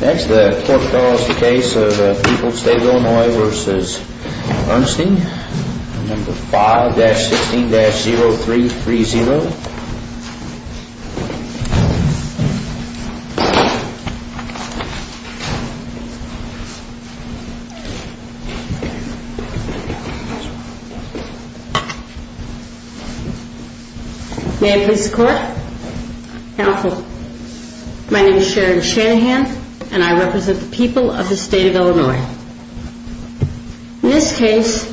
5-16-0330 May I please the court? My name is Sharon Shanahan and I represent the people of the state of Illinois. In this case,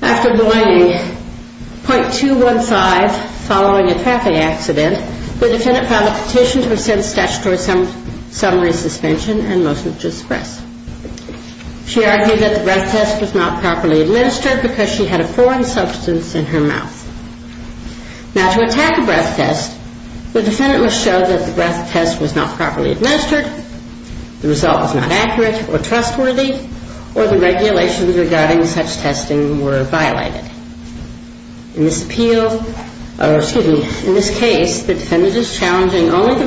after delaying .215 following a traffic accident, the defendant filed a petition to rescind statutory summary suspension and motion to express. She argued that the breath test was not properly administered because she had a foreign substance in her mouth. Now, to attack a breath test, the defendant must show that the breath test was not properly administered, the result was not accurate or trustworthy, or the regulations regarding such testing were violated. In this case, the defendant is challenging only that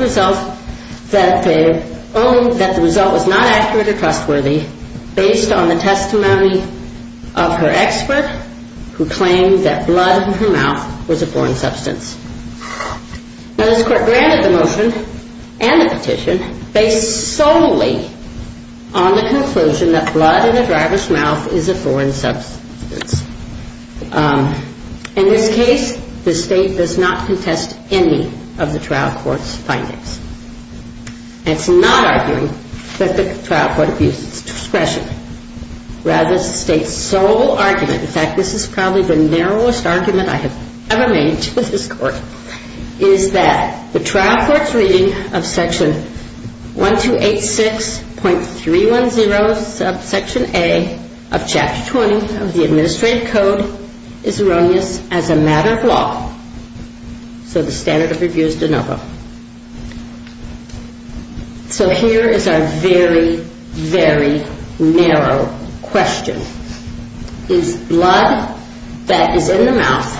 the result was not accurate or trustworthy based on the testimony of her expert who claimed that blood in her mouth was a foreign substance. Now, this court granted the motion and the petition based solely on the conclusion that blood in the driver's mouth is a foreign substance. In this case, the state does not contest any of the trial court's findings. It's not arguing that the trial court abused discretion. Rather, the state's sole argument, in fact, this is probably the narrowest argument I have ever made to this court, is that the trial court's reading of Section 1286.310 subsection A of Chapter 20 of the Administrative Code is erroneous as a matter of law. So the standard of review is de novo. So here is our very, very narrow question. Is blood that is in the mouth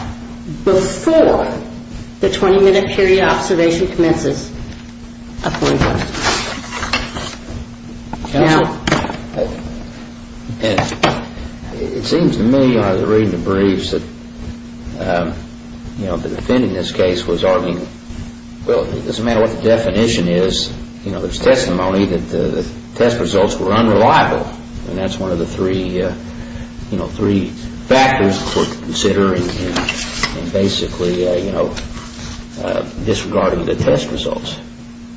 before the 20-minute period of observation commences a foreign substance? Counsel, it seems to me, as I was reading the briefs, that the defendant in this case was arguing, well, it doesn't matter what the definition is, there's testimony that the test results were unreliable. And that's one of the three factors the court could consider in basically disregarding the test results.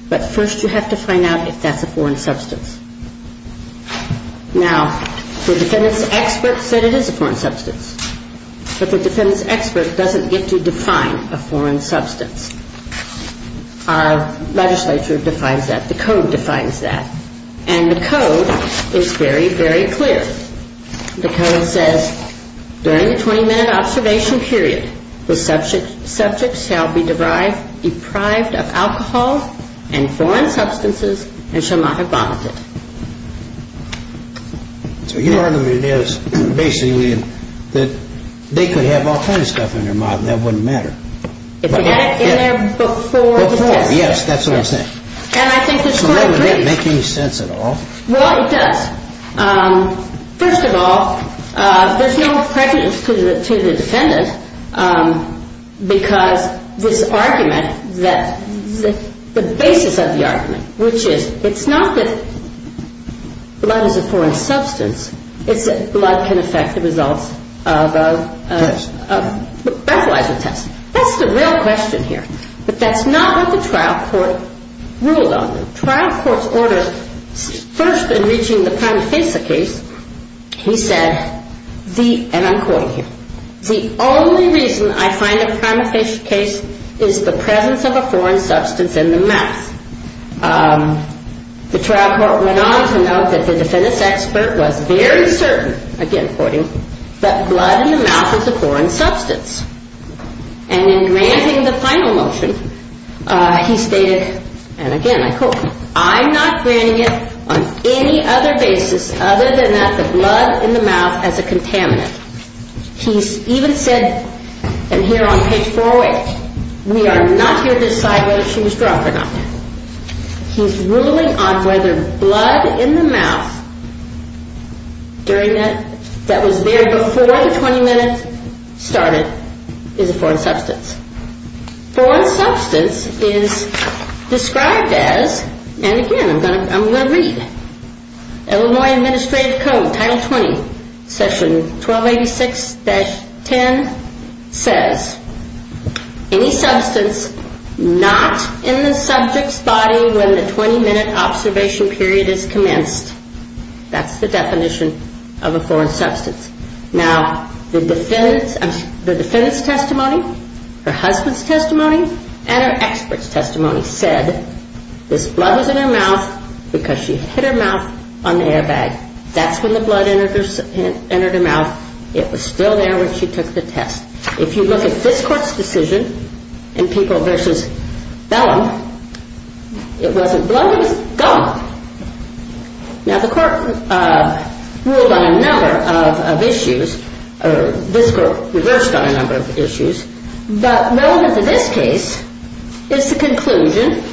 But first you have to find out if that's a foreign substance. Now, the defendant's expert said it is a foreign substance. But the defendant's expert doesn't get to define a foreign substance. Our legislature defines that. The Code defines that. And the Code is very, very clear. The Code says, during the 20-minute observation period, the subject shall be deprived of alcohol and foreign substances and shall not have vomited. So your argument is, basically, that they could have all kinds of stuff in their mouth and that wouldn't matter. If they had it in there before the test. Before, yes, that's what I'm saying. And I think the court agrees. So that doesn't make any sense at all. Well, it does. First of all, there's no prejudice to the defendant because this argument that the basis of the argument, which is it's not that blood is a foreign substance, it's that blood can affect the results of a breathalyzer test. That's the real question here. But that's not what the trial court ruled on. The trial court's order, first in reaching the prima facie case, he said, and I'm quoting here, the only reason I find a prima facie case is the presence of a foreign substance in the mouth. The trial court went on to note that the defendant's expert was very certain, again quoting, that blood in the mouth is a foreign substance. And in granting the final motion, he stated, and again I quote, I'm not granting it on any other basis other than that the blood in the mouth is a contaminant. He's even said, and here on page 408, we are not here to decide whether she was drunk or not. He's ruling on whether blood in the mouth that was there before the 20 minutes started is a foreign substance. Foreign substance is described as, and again I'm going to read, Illinois Administrative Code, Title 20, Section 1286-10 says, any substance not in the subject's body when the 20-minute observation period is commenced. That's the definition of a foreign substance. Now, the defendant's testimony, her husband's testimony, and her expert's testimony said, this blood was in her mouth because she hit her mouth on the airbag. That's when the blood entered her mouth. It was still there when she took the test. If you look at this court's decision in People v. Bellum, it wasn't blood, it was gum. Now, the court ruled on a number of issues, or this court reversed on a number of issues, but known as in this case is the conclusion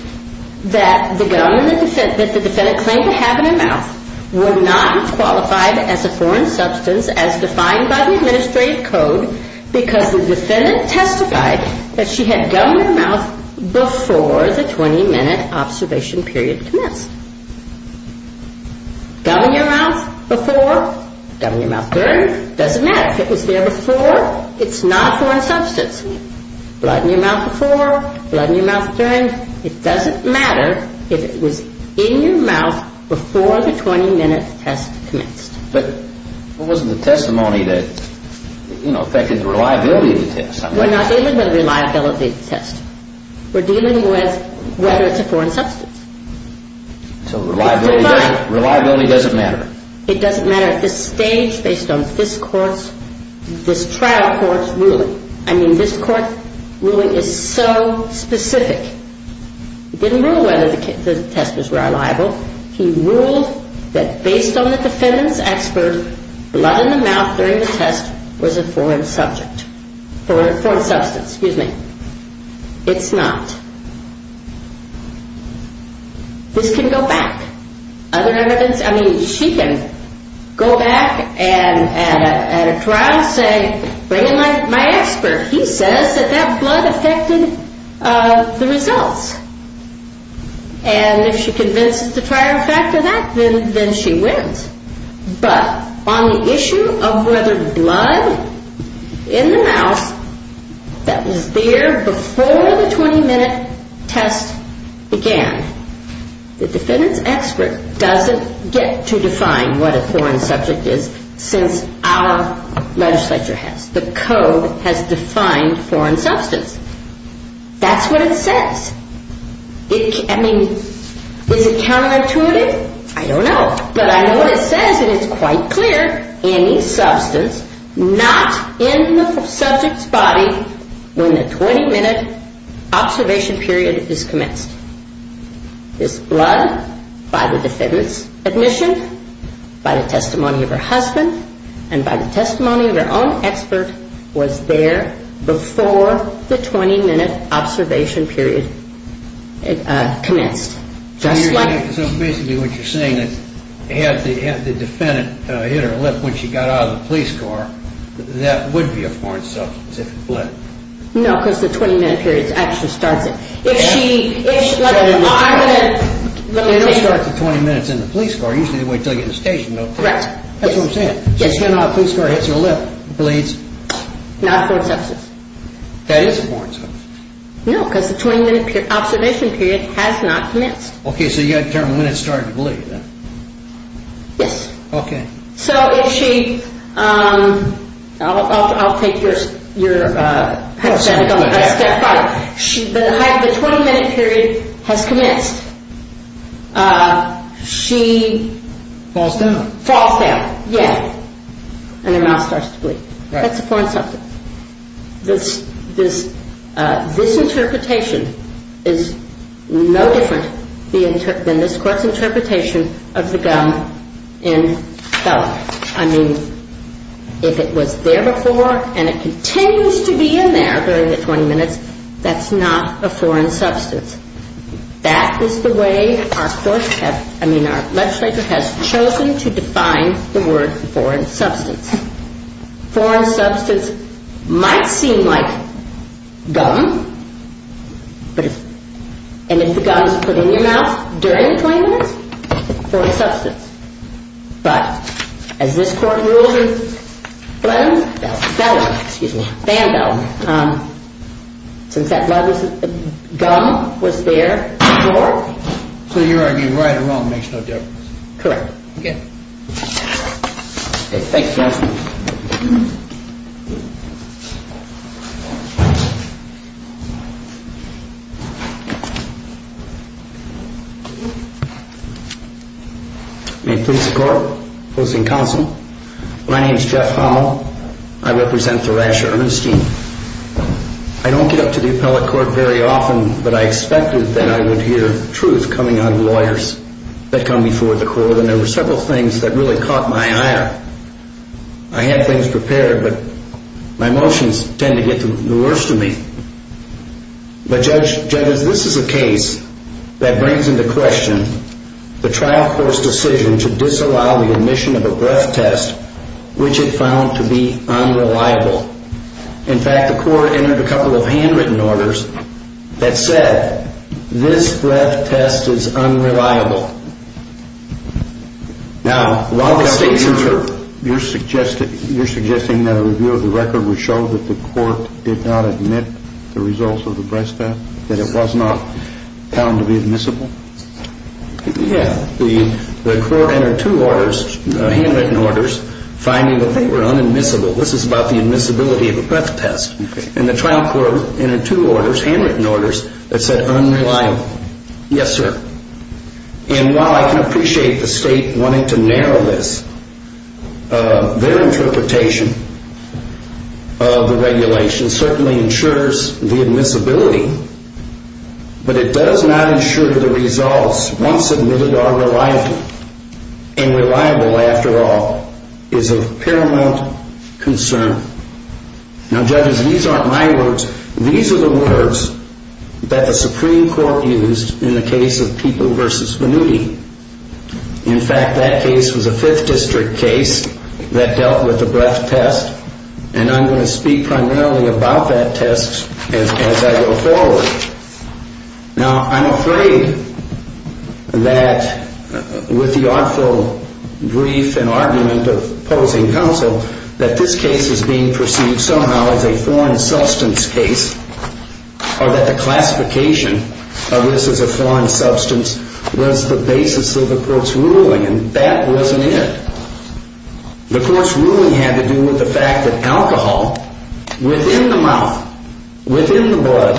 that the gum that the defendant claimed to have in her mouth were not qualified as a foreign substance as defined by the Administrative Code because the defendant testified that she had gum in her mouth before the 20-minute observation period commenced. Gum in your mouth before, gum in your mouth during, doesn't matter. If it was there before, it's not a foreign substance. Blood in your mouth before, blood in your mouth during, it doesn't matter if it was in your mouth before the 20-minute test commenced. But what was the testimony that, you know, affected the reliability of the test? We're not dealing with the reliability of the test. We're dealing with whether it's a foreign substance. So reliability doesn't matter. It doesn't matter at this stage based on this trial court's ruling. I mean, this court ruling is so specific. It didn't rule whether the test was reliable. He ruled that based on the defendant's expert, blood in the mouth during the test was a foreign substance. It's not. This can go back. Other evidence, I mean, she can go back and at a trial say, bring in my expert. He says that that blood affected the results. And if she convinces the trial to factor that, then she wins. But on the issue of whether blood in the mouth that was there before the 20-minute test began, the defendant's expert doesn't get to define what a foreign subject is since our legislature has. The code has defined foreign substance. That's what it says. I mean, is it counterintuitive? I don't know. But I know what it says, and it's quite clear. Any substance not in the subject's body when the 20-minute observation period is commenced. This blood by the defendant's admission, by the testimony of her husband, and by the testimony of her own expert was there before the 20-minute observation period commenced. So basically what you're saying is had the defendant hit her lip when she got out of the police car, that would be a foreign substance if it bled. No, because the 20-minute period actually starts it. If she... I'm going to... It doesn't start the 20 minutes in the police car. Usually they wait until you get in the station. That's what I'm saying. She's getting out of the police car, hits her lip, bleeds. Not a foreign substance. That is a foreign substance. No, because the 20-minute observation period has not commenced. Okay, so you've got to determine when it started to bleed. Yes. Okay. So if she... I'll take your hypothetical. The 20-minute period has commenced. She... Falls down. Falls down, yes. And her mouth starts to bleed. Right. That's a foreign substance. This interpretation is no different than this court's interpretation of the gun in Beller. I mean, if it was there before and it continues to be in there during the 20-minute period, that's not a foreign substance. That is the way our court has... I mean, our legislature has chosen to define the word foreign substance. Foreign substance might seem like gum, but it's... And if the gum is put in your mouth during the 20 minutes, it's a foreign substance. But as this court rules in Beller... Beller, excuse me. Band-aid. Since that blood was... Gum was there before. So you're arguing right or wrong makes no difference. Correct. Okay. Thank you, counsel. May it please the court, opposing counsel. My name is Jeff Howell. I represent Thrasher-Ernstine. I don't get up to the appellate court very often, but I expected that I would hear truth coming out of lawyers that come before the court, and there were several things that really caught my eye. I had things prepared, but my emotions tend to get the worst of me. But Judge, this is a case that brings into question the trial court's decision to disallow the admission of a breath test, which it found to be unreliable. In fact, the court entered a couple of handwritten orders that said, this breath test is unreliable. Now... You're suggesting that a review of the record would show that the court did not admit the results of the breath test? That it was not found to be admissible? Yeah. The court entered two orders, handwritten orders, finding that they were unadmissible. This is about the admissibility of a breath test. And the trial court entered two orders, handwritten orders, that said unreliable. Yes, sir. And while I can appreciate the state wanting to narrow this, their interpretation of the regulation certainly ensures the admissibility, but it does not ensure that the results, once admitted, are reliable. And reliable, after all, is of paramount concern. Now, judges, these aren't my words. These are the words that the Supreme Court used in the case of People v. Vannuti. In fact, that case was a Fifth District case that dealt with a breath test, and I'm going to speak primarily about that test as I go forward. Now, I'm afraid that with the awful grief and argument of opposing counsel that this case is being perceived somehow as a foreign substance case, or that the classification of this as a foreign substance was the basis of the court's ruling, and that wasn't it. The court's ruling had to do with the fact that alcohol within the mouth, within the blood,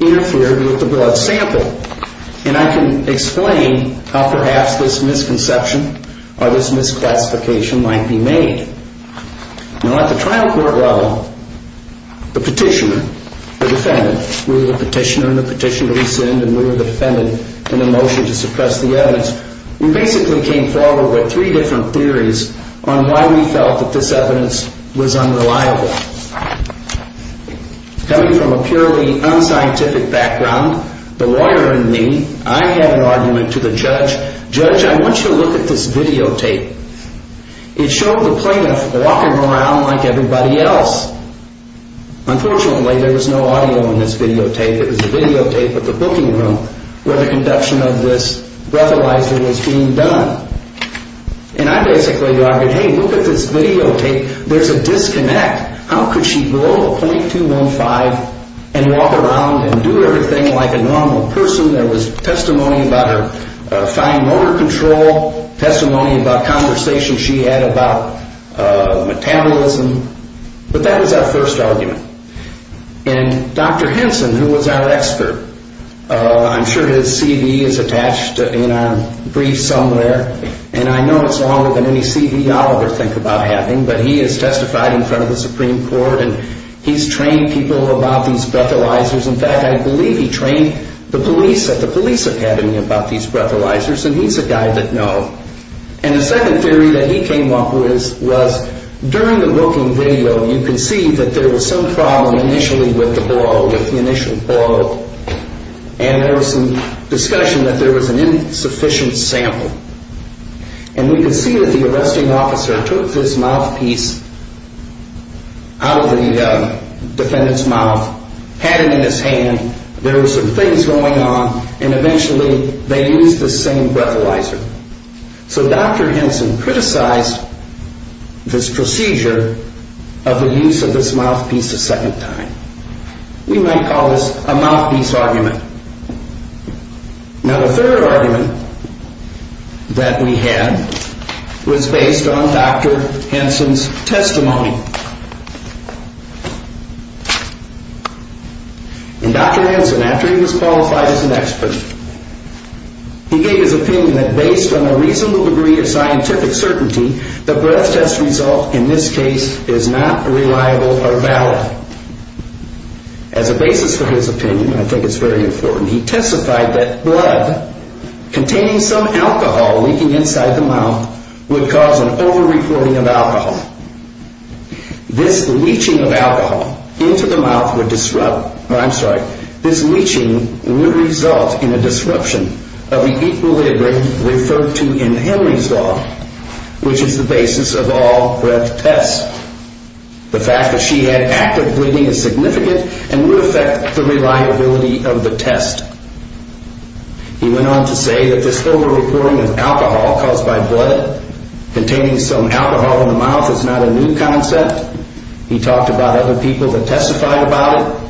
interfered with the blood sample. And I can explain how perhaps this misconception or this misclassification might be made. Now, at the trial court level, the petitioner, the defendant, we were the petitioner, and the petitioner rescinded, and we were the defendant in the motion to suppress the evidence. We basically came forward with three different theories on why we felt that this evidence was unreliable. Coming from a purely unscientific background, the lawyer in me, I had an argument to the judge, Judge, I want you to look at this videotape. It showed the plaintiff walking around like everybody else. Unfortunately, there was no audio in this videotape. It was a videotape of the booking room where the conduction of this breathalyzer was being done. And I basically argued, hey, look at this videotape. There's a disconnect. How could she blow a .215 and walk around and do everything like a normal person? There was testimony about her fine motor control, testimony about conversations she had about metabolism. But that was our first argument. And Dr. Henson, who was our expert, I'm sure his CV is attached in our brief somewhere. And I know it's longer than any CV I'll ever think about having, but he has testified in front of the Supreme Court and he's trained people about these breathalyzers. In fact, I believe he trained the police at the police academy about these breathalyzers, and he's a guy that know. And the second theory that he came up with was during the booking video, you can see that there was some problem initially with the blow, with the initial blow. And there was some discussion that there was an insufficient sample. And we can see that the arresting officer took this mouthpiece out of the defendant's mouth, had it in his hand, there were some things going on, and eventually they used the same breathalyzer. So Dr. Henson criticized this procedure of the use of this mouthpiece a second time. We might call this a mouthpiece argument. Now the third argument that we had was based on Dr. Henson's testimony. And Dr. Henson, after he was qualified as an expert, he gave his opinion that based on a reasonable degree of scientific certainty, the breath test result in this case is not reliable or valid. As a basis for his opinion, I think it's very important, he testified that blood containing some alcohol leaking inside the mouth would cause an over-reporting of alcohol. This leaching of alcohol into the mouth would disrupt, or I'm sorry, this leaching would result in a disruption of the equilibrium referred to in Henry's law, which is the basis of all breath tests. The fact that she had active bleeding was significant and would affect the reliability of the test. He went on to say that this over-reporting of alcohol caused by blood containing some alcohol in the mouth is not a new concept. He talked about other people that testified about it.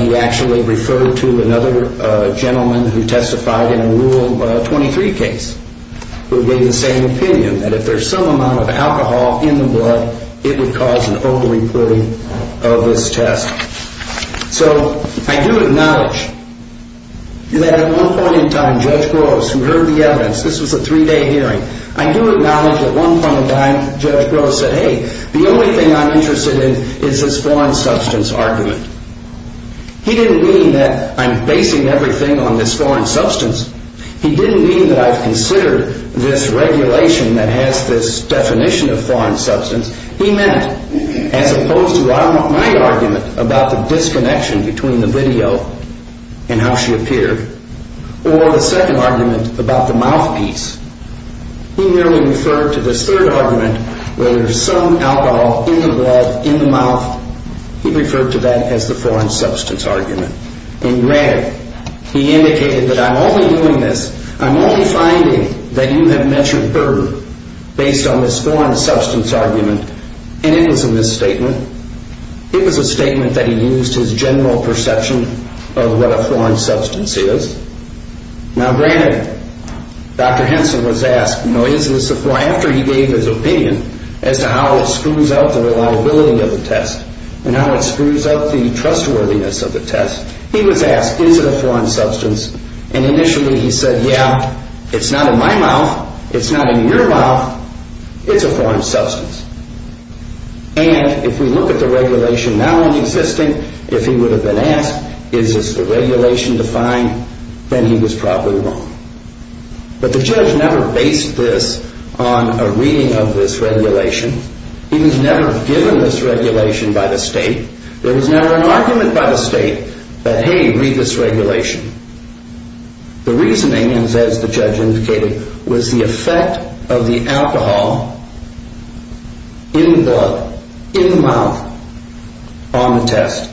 He actually referred to another gentleman who testified in a Rule 23 case who gave the same opinion that if there's some amount of alcohol in the blood, it would cause an over-reporting of this test. So, I do acknowledge that at one point in time, Judge Gross, who heard the evidence, this was a three-day hearing, I do acknowledge at one point in time, Judge Gross said, hey, the only thing I'm interested in is this foreign substance argument. He didn't mean that I'm basing everything on this foreign substance. He didn't mean that I've considered this regulation that has this definition of foreign substance. He meant, as opposed to my argument about the disconnection between the video and how she appeared, or the second argument about the mouthpiece, he merely referred to this third argument where there's some alcohol in the blood, in the mouth, he referred to that as the foreign substance argument. And, granted, he indicated that I'm only doing this, I'm only finding that you have measured her based on this foreign substance argument, and it was a misstatement. It was a statement that he used his general perception of what a foreign substance is. Now, granted, Dr. Henson was asked, after he gave his opinion as to how it screws up the reliability of the test, and how it screws up the trustworthiness of the test, he was asked, is it a foreign substance? And initially he said, yeah, it's not in my mouth, it's not in your mouth, it's a foreign substance. But if you look at the regulation now in existing, if he would have been asked, is this the regulation defined, then he was probably wrong. But the judge never based this on a reading of this regulation. He was never given this regulation by the state. There was never an argument by the state that, hey, read this regulation. The reasoning is, as the judge indicated, was the effect of the alcohol in blood, on the test.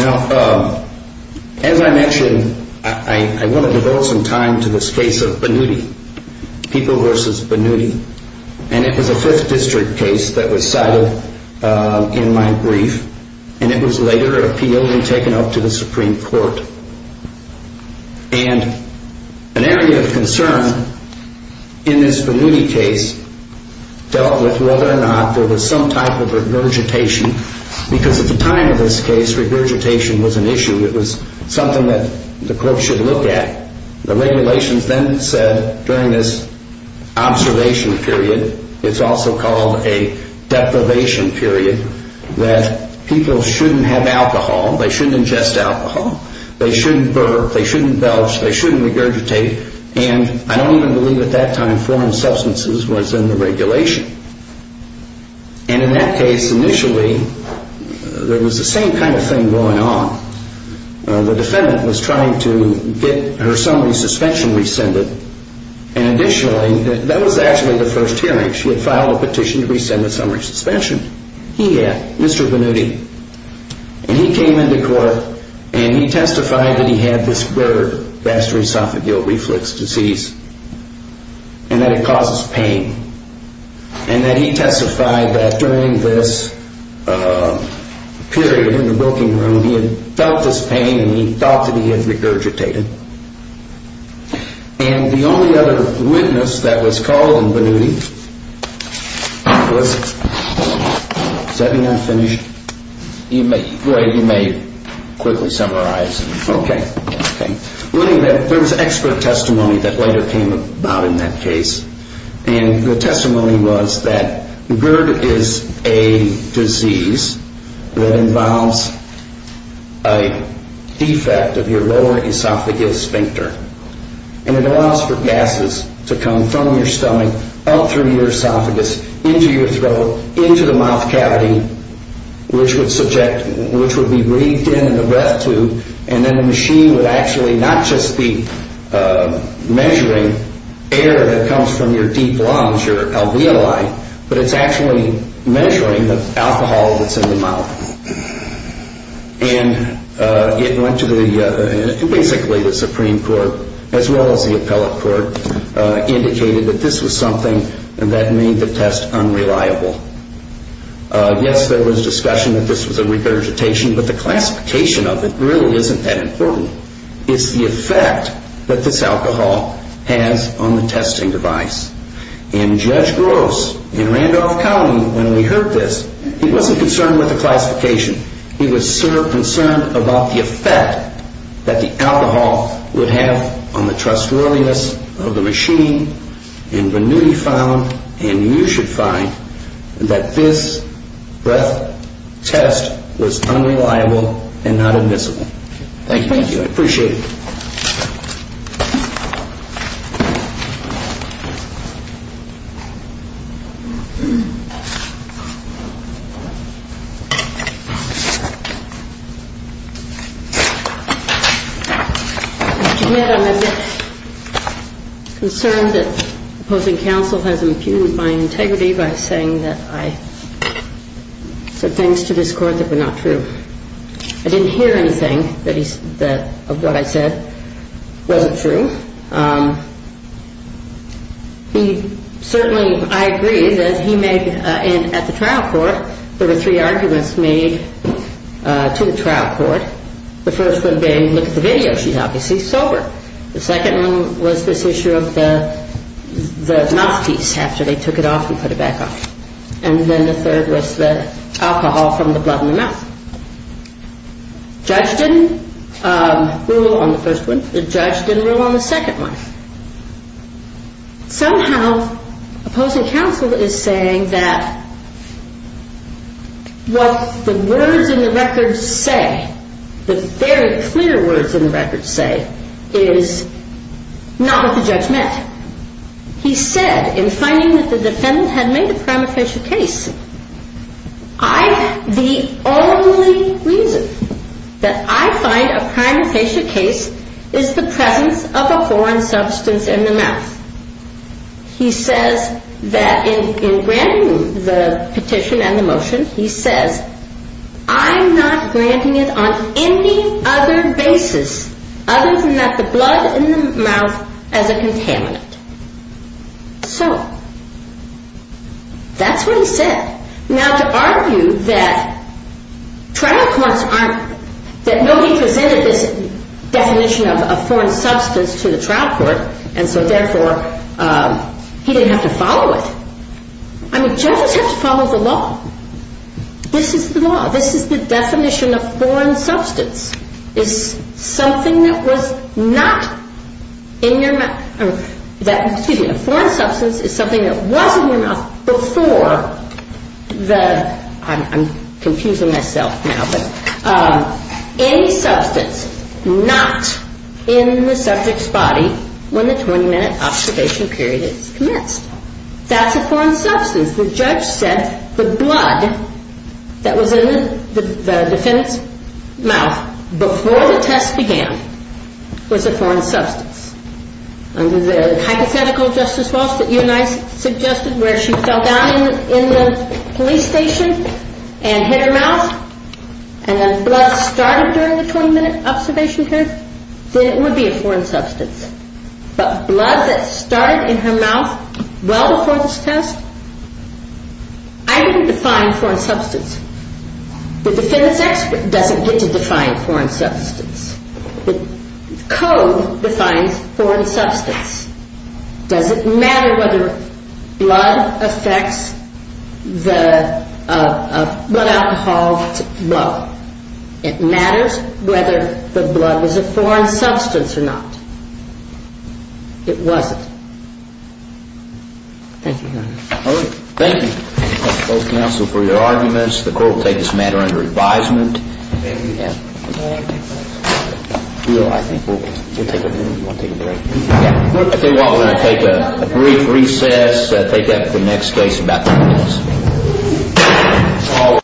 Now, as I mentioned, I want to devote some time to this case of Benuti, People v. Benuti. And it was a 5th District case that was cited in my brief. And it was later appealed and taken up to the Supreme Court. And an area of concern in this Benuti case dealt with whether or not there was some type of regurgitation, because at the time of this case regurgitation was an issue. It was something that the court should look at. The regulations then said during this observation period, deprivation period, that people shouldn't have alcohol, they shouldn't ingest alcohol, they shouldn't burp, they shouldn't belch, they shouldn't regurgitate. And I don't even believe at that time foreign substances was in the regulation. And in that case, initially, there was the same kind of thing going on. The defendant was trying to get her summary suspension rescinded. And additionally, that was actually the first hearing. The first hearing of the summary suspension, he had, Mr. Benuti, and he came into court and he testified that he had this bird, vascular esophageal reflux disease, and that it causes pain. And that he testified that during this period in the booking room, he had felt this pain and he thought that he had regurgitated. And the only other witness that was called in Benuti was, does that mean I'm finished? You may, you may quickly summarize. Okay. There was expert testimony that later came about in that case. And the testimony was that bird is a disease that involves a defect of your lower esophageal sphincter. And it allows for gases to come from your stomach into your esophagus, into your throat, into the mouth cavity, which would subject, which would be breathed in in the breath tube, and then the machine would actually not just be measuring air that comes from your deep lungs, your alveoli, but it's actually measuring the alcohol that's in the mouth. And it went to the, basically the Supreme Court as well as the appellate court and that made the test unreliable. Yes, there was discussion that this was a regurgitation, but the classification of it really isn't that important. It's the effect that this alcohol has on the testing device. And Judge Gross in Randolph County when we heard this, he wasn't concerned with the classification. He was concerned about the effect that the alcohol would have on the trustworthiness of the machine. And Venuti found, and you should find, that this breath test was unreliable and not admissible. Thank you, I appreciate it. I admit I'm a bit concerned that opposing counsel has impugned my integrity by saying that I said things to this court that were not true. I didn't hear anything of what I said wasn't true. He certainly, I agree that he made, at the trial court, there were three arguments made to the trial court the first one being look at the video, she's obviously sober. The second one was this issue of the mouthpiece after they took it off and put it back on. And then the third was the alcohol from the blood in the mouth. The judge didn't rule on the first one, the judge didn't rule on the second one. Somehow opposing counsel is saying that what the words in the records say, the very clear words in the records say, is not what the judge meant. He said, in finding that the defendant had made a prima facie case, I, the only reason that I find a prima facie case is the presence of a foreign substance in the mouth. He says that in granting the petition and the motion, he says, I'm not granting it on any other basis other than that the blood in the mouth as a contaminant. So, that's what he said. Now to argue that trial courts aren't, that nobody presented this definition of a foreign substance to the trial court and so therefore he didn't have to follow it. I mean, judges have to follow the law. This is the law. This is the definition of foreign substance is something that was not in your mouth. Excuse me, a foreign substance is something that was in your mouth before the, I'm confusing myself now, but, any substance not in the subject's body when the 20 minute observation period is commenced. That's a foreign substance. The judge said the blood that was in the defendant's mouth before the test began was a foreign substance. Under the hypothetical Justice Walsh that you and I suggested where she fell down in the police station and hit her mouth and the blood started during the 20 minute observation period, then it would be a foreign substance. But blood that started in her mouth well before this test, I didn't define foreign substance. The defendant's expert doesn't get to define foreign substance. The code defines foreign substance. Does it matter whether blood affects the, uh, blood alcohol? Well, it matters whether the blood is a foreign substance or not. It wasn't. Thank you, Your Honor. All right. Thank you, both counsel, for your arguments. The court will take this matter under advisement. If you want, we're going to take a brief recess. We'll take that for the next case in about three minutes.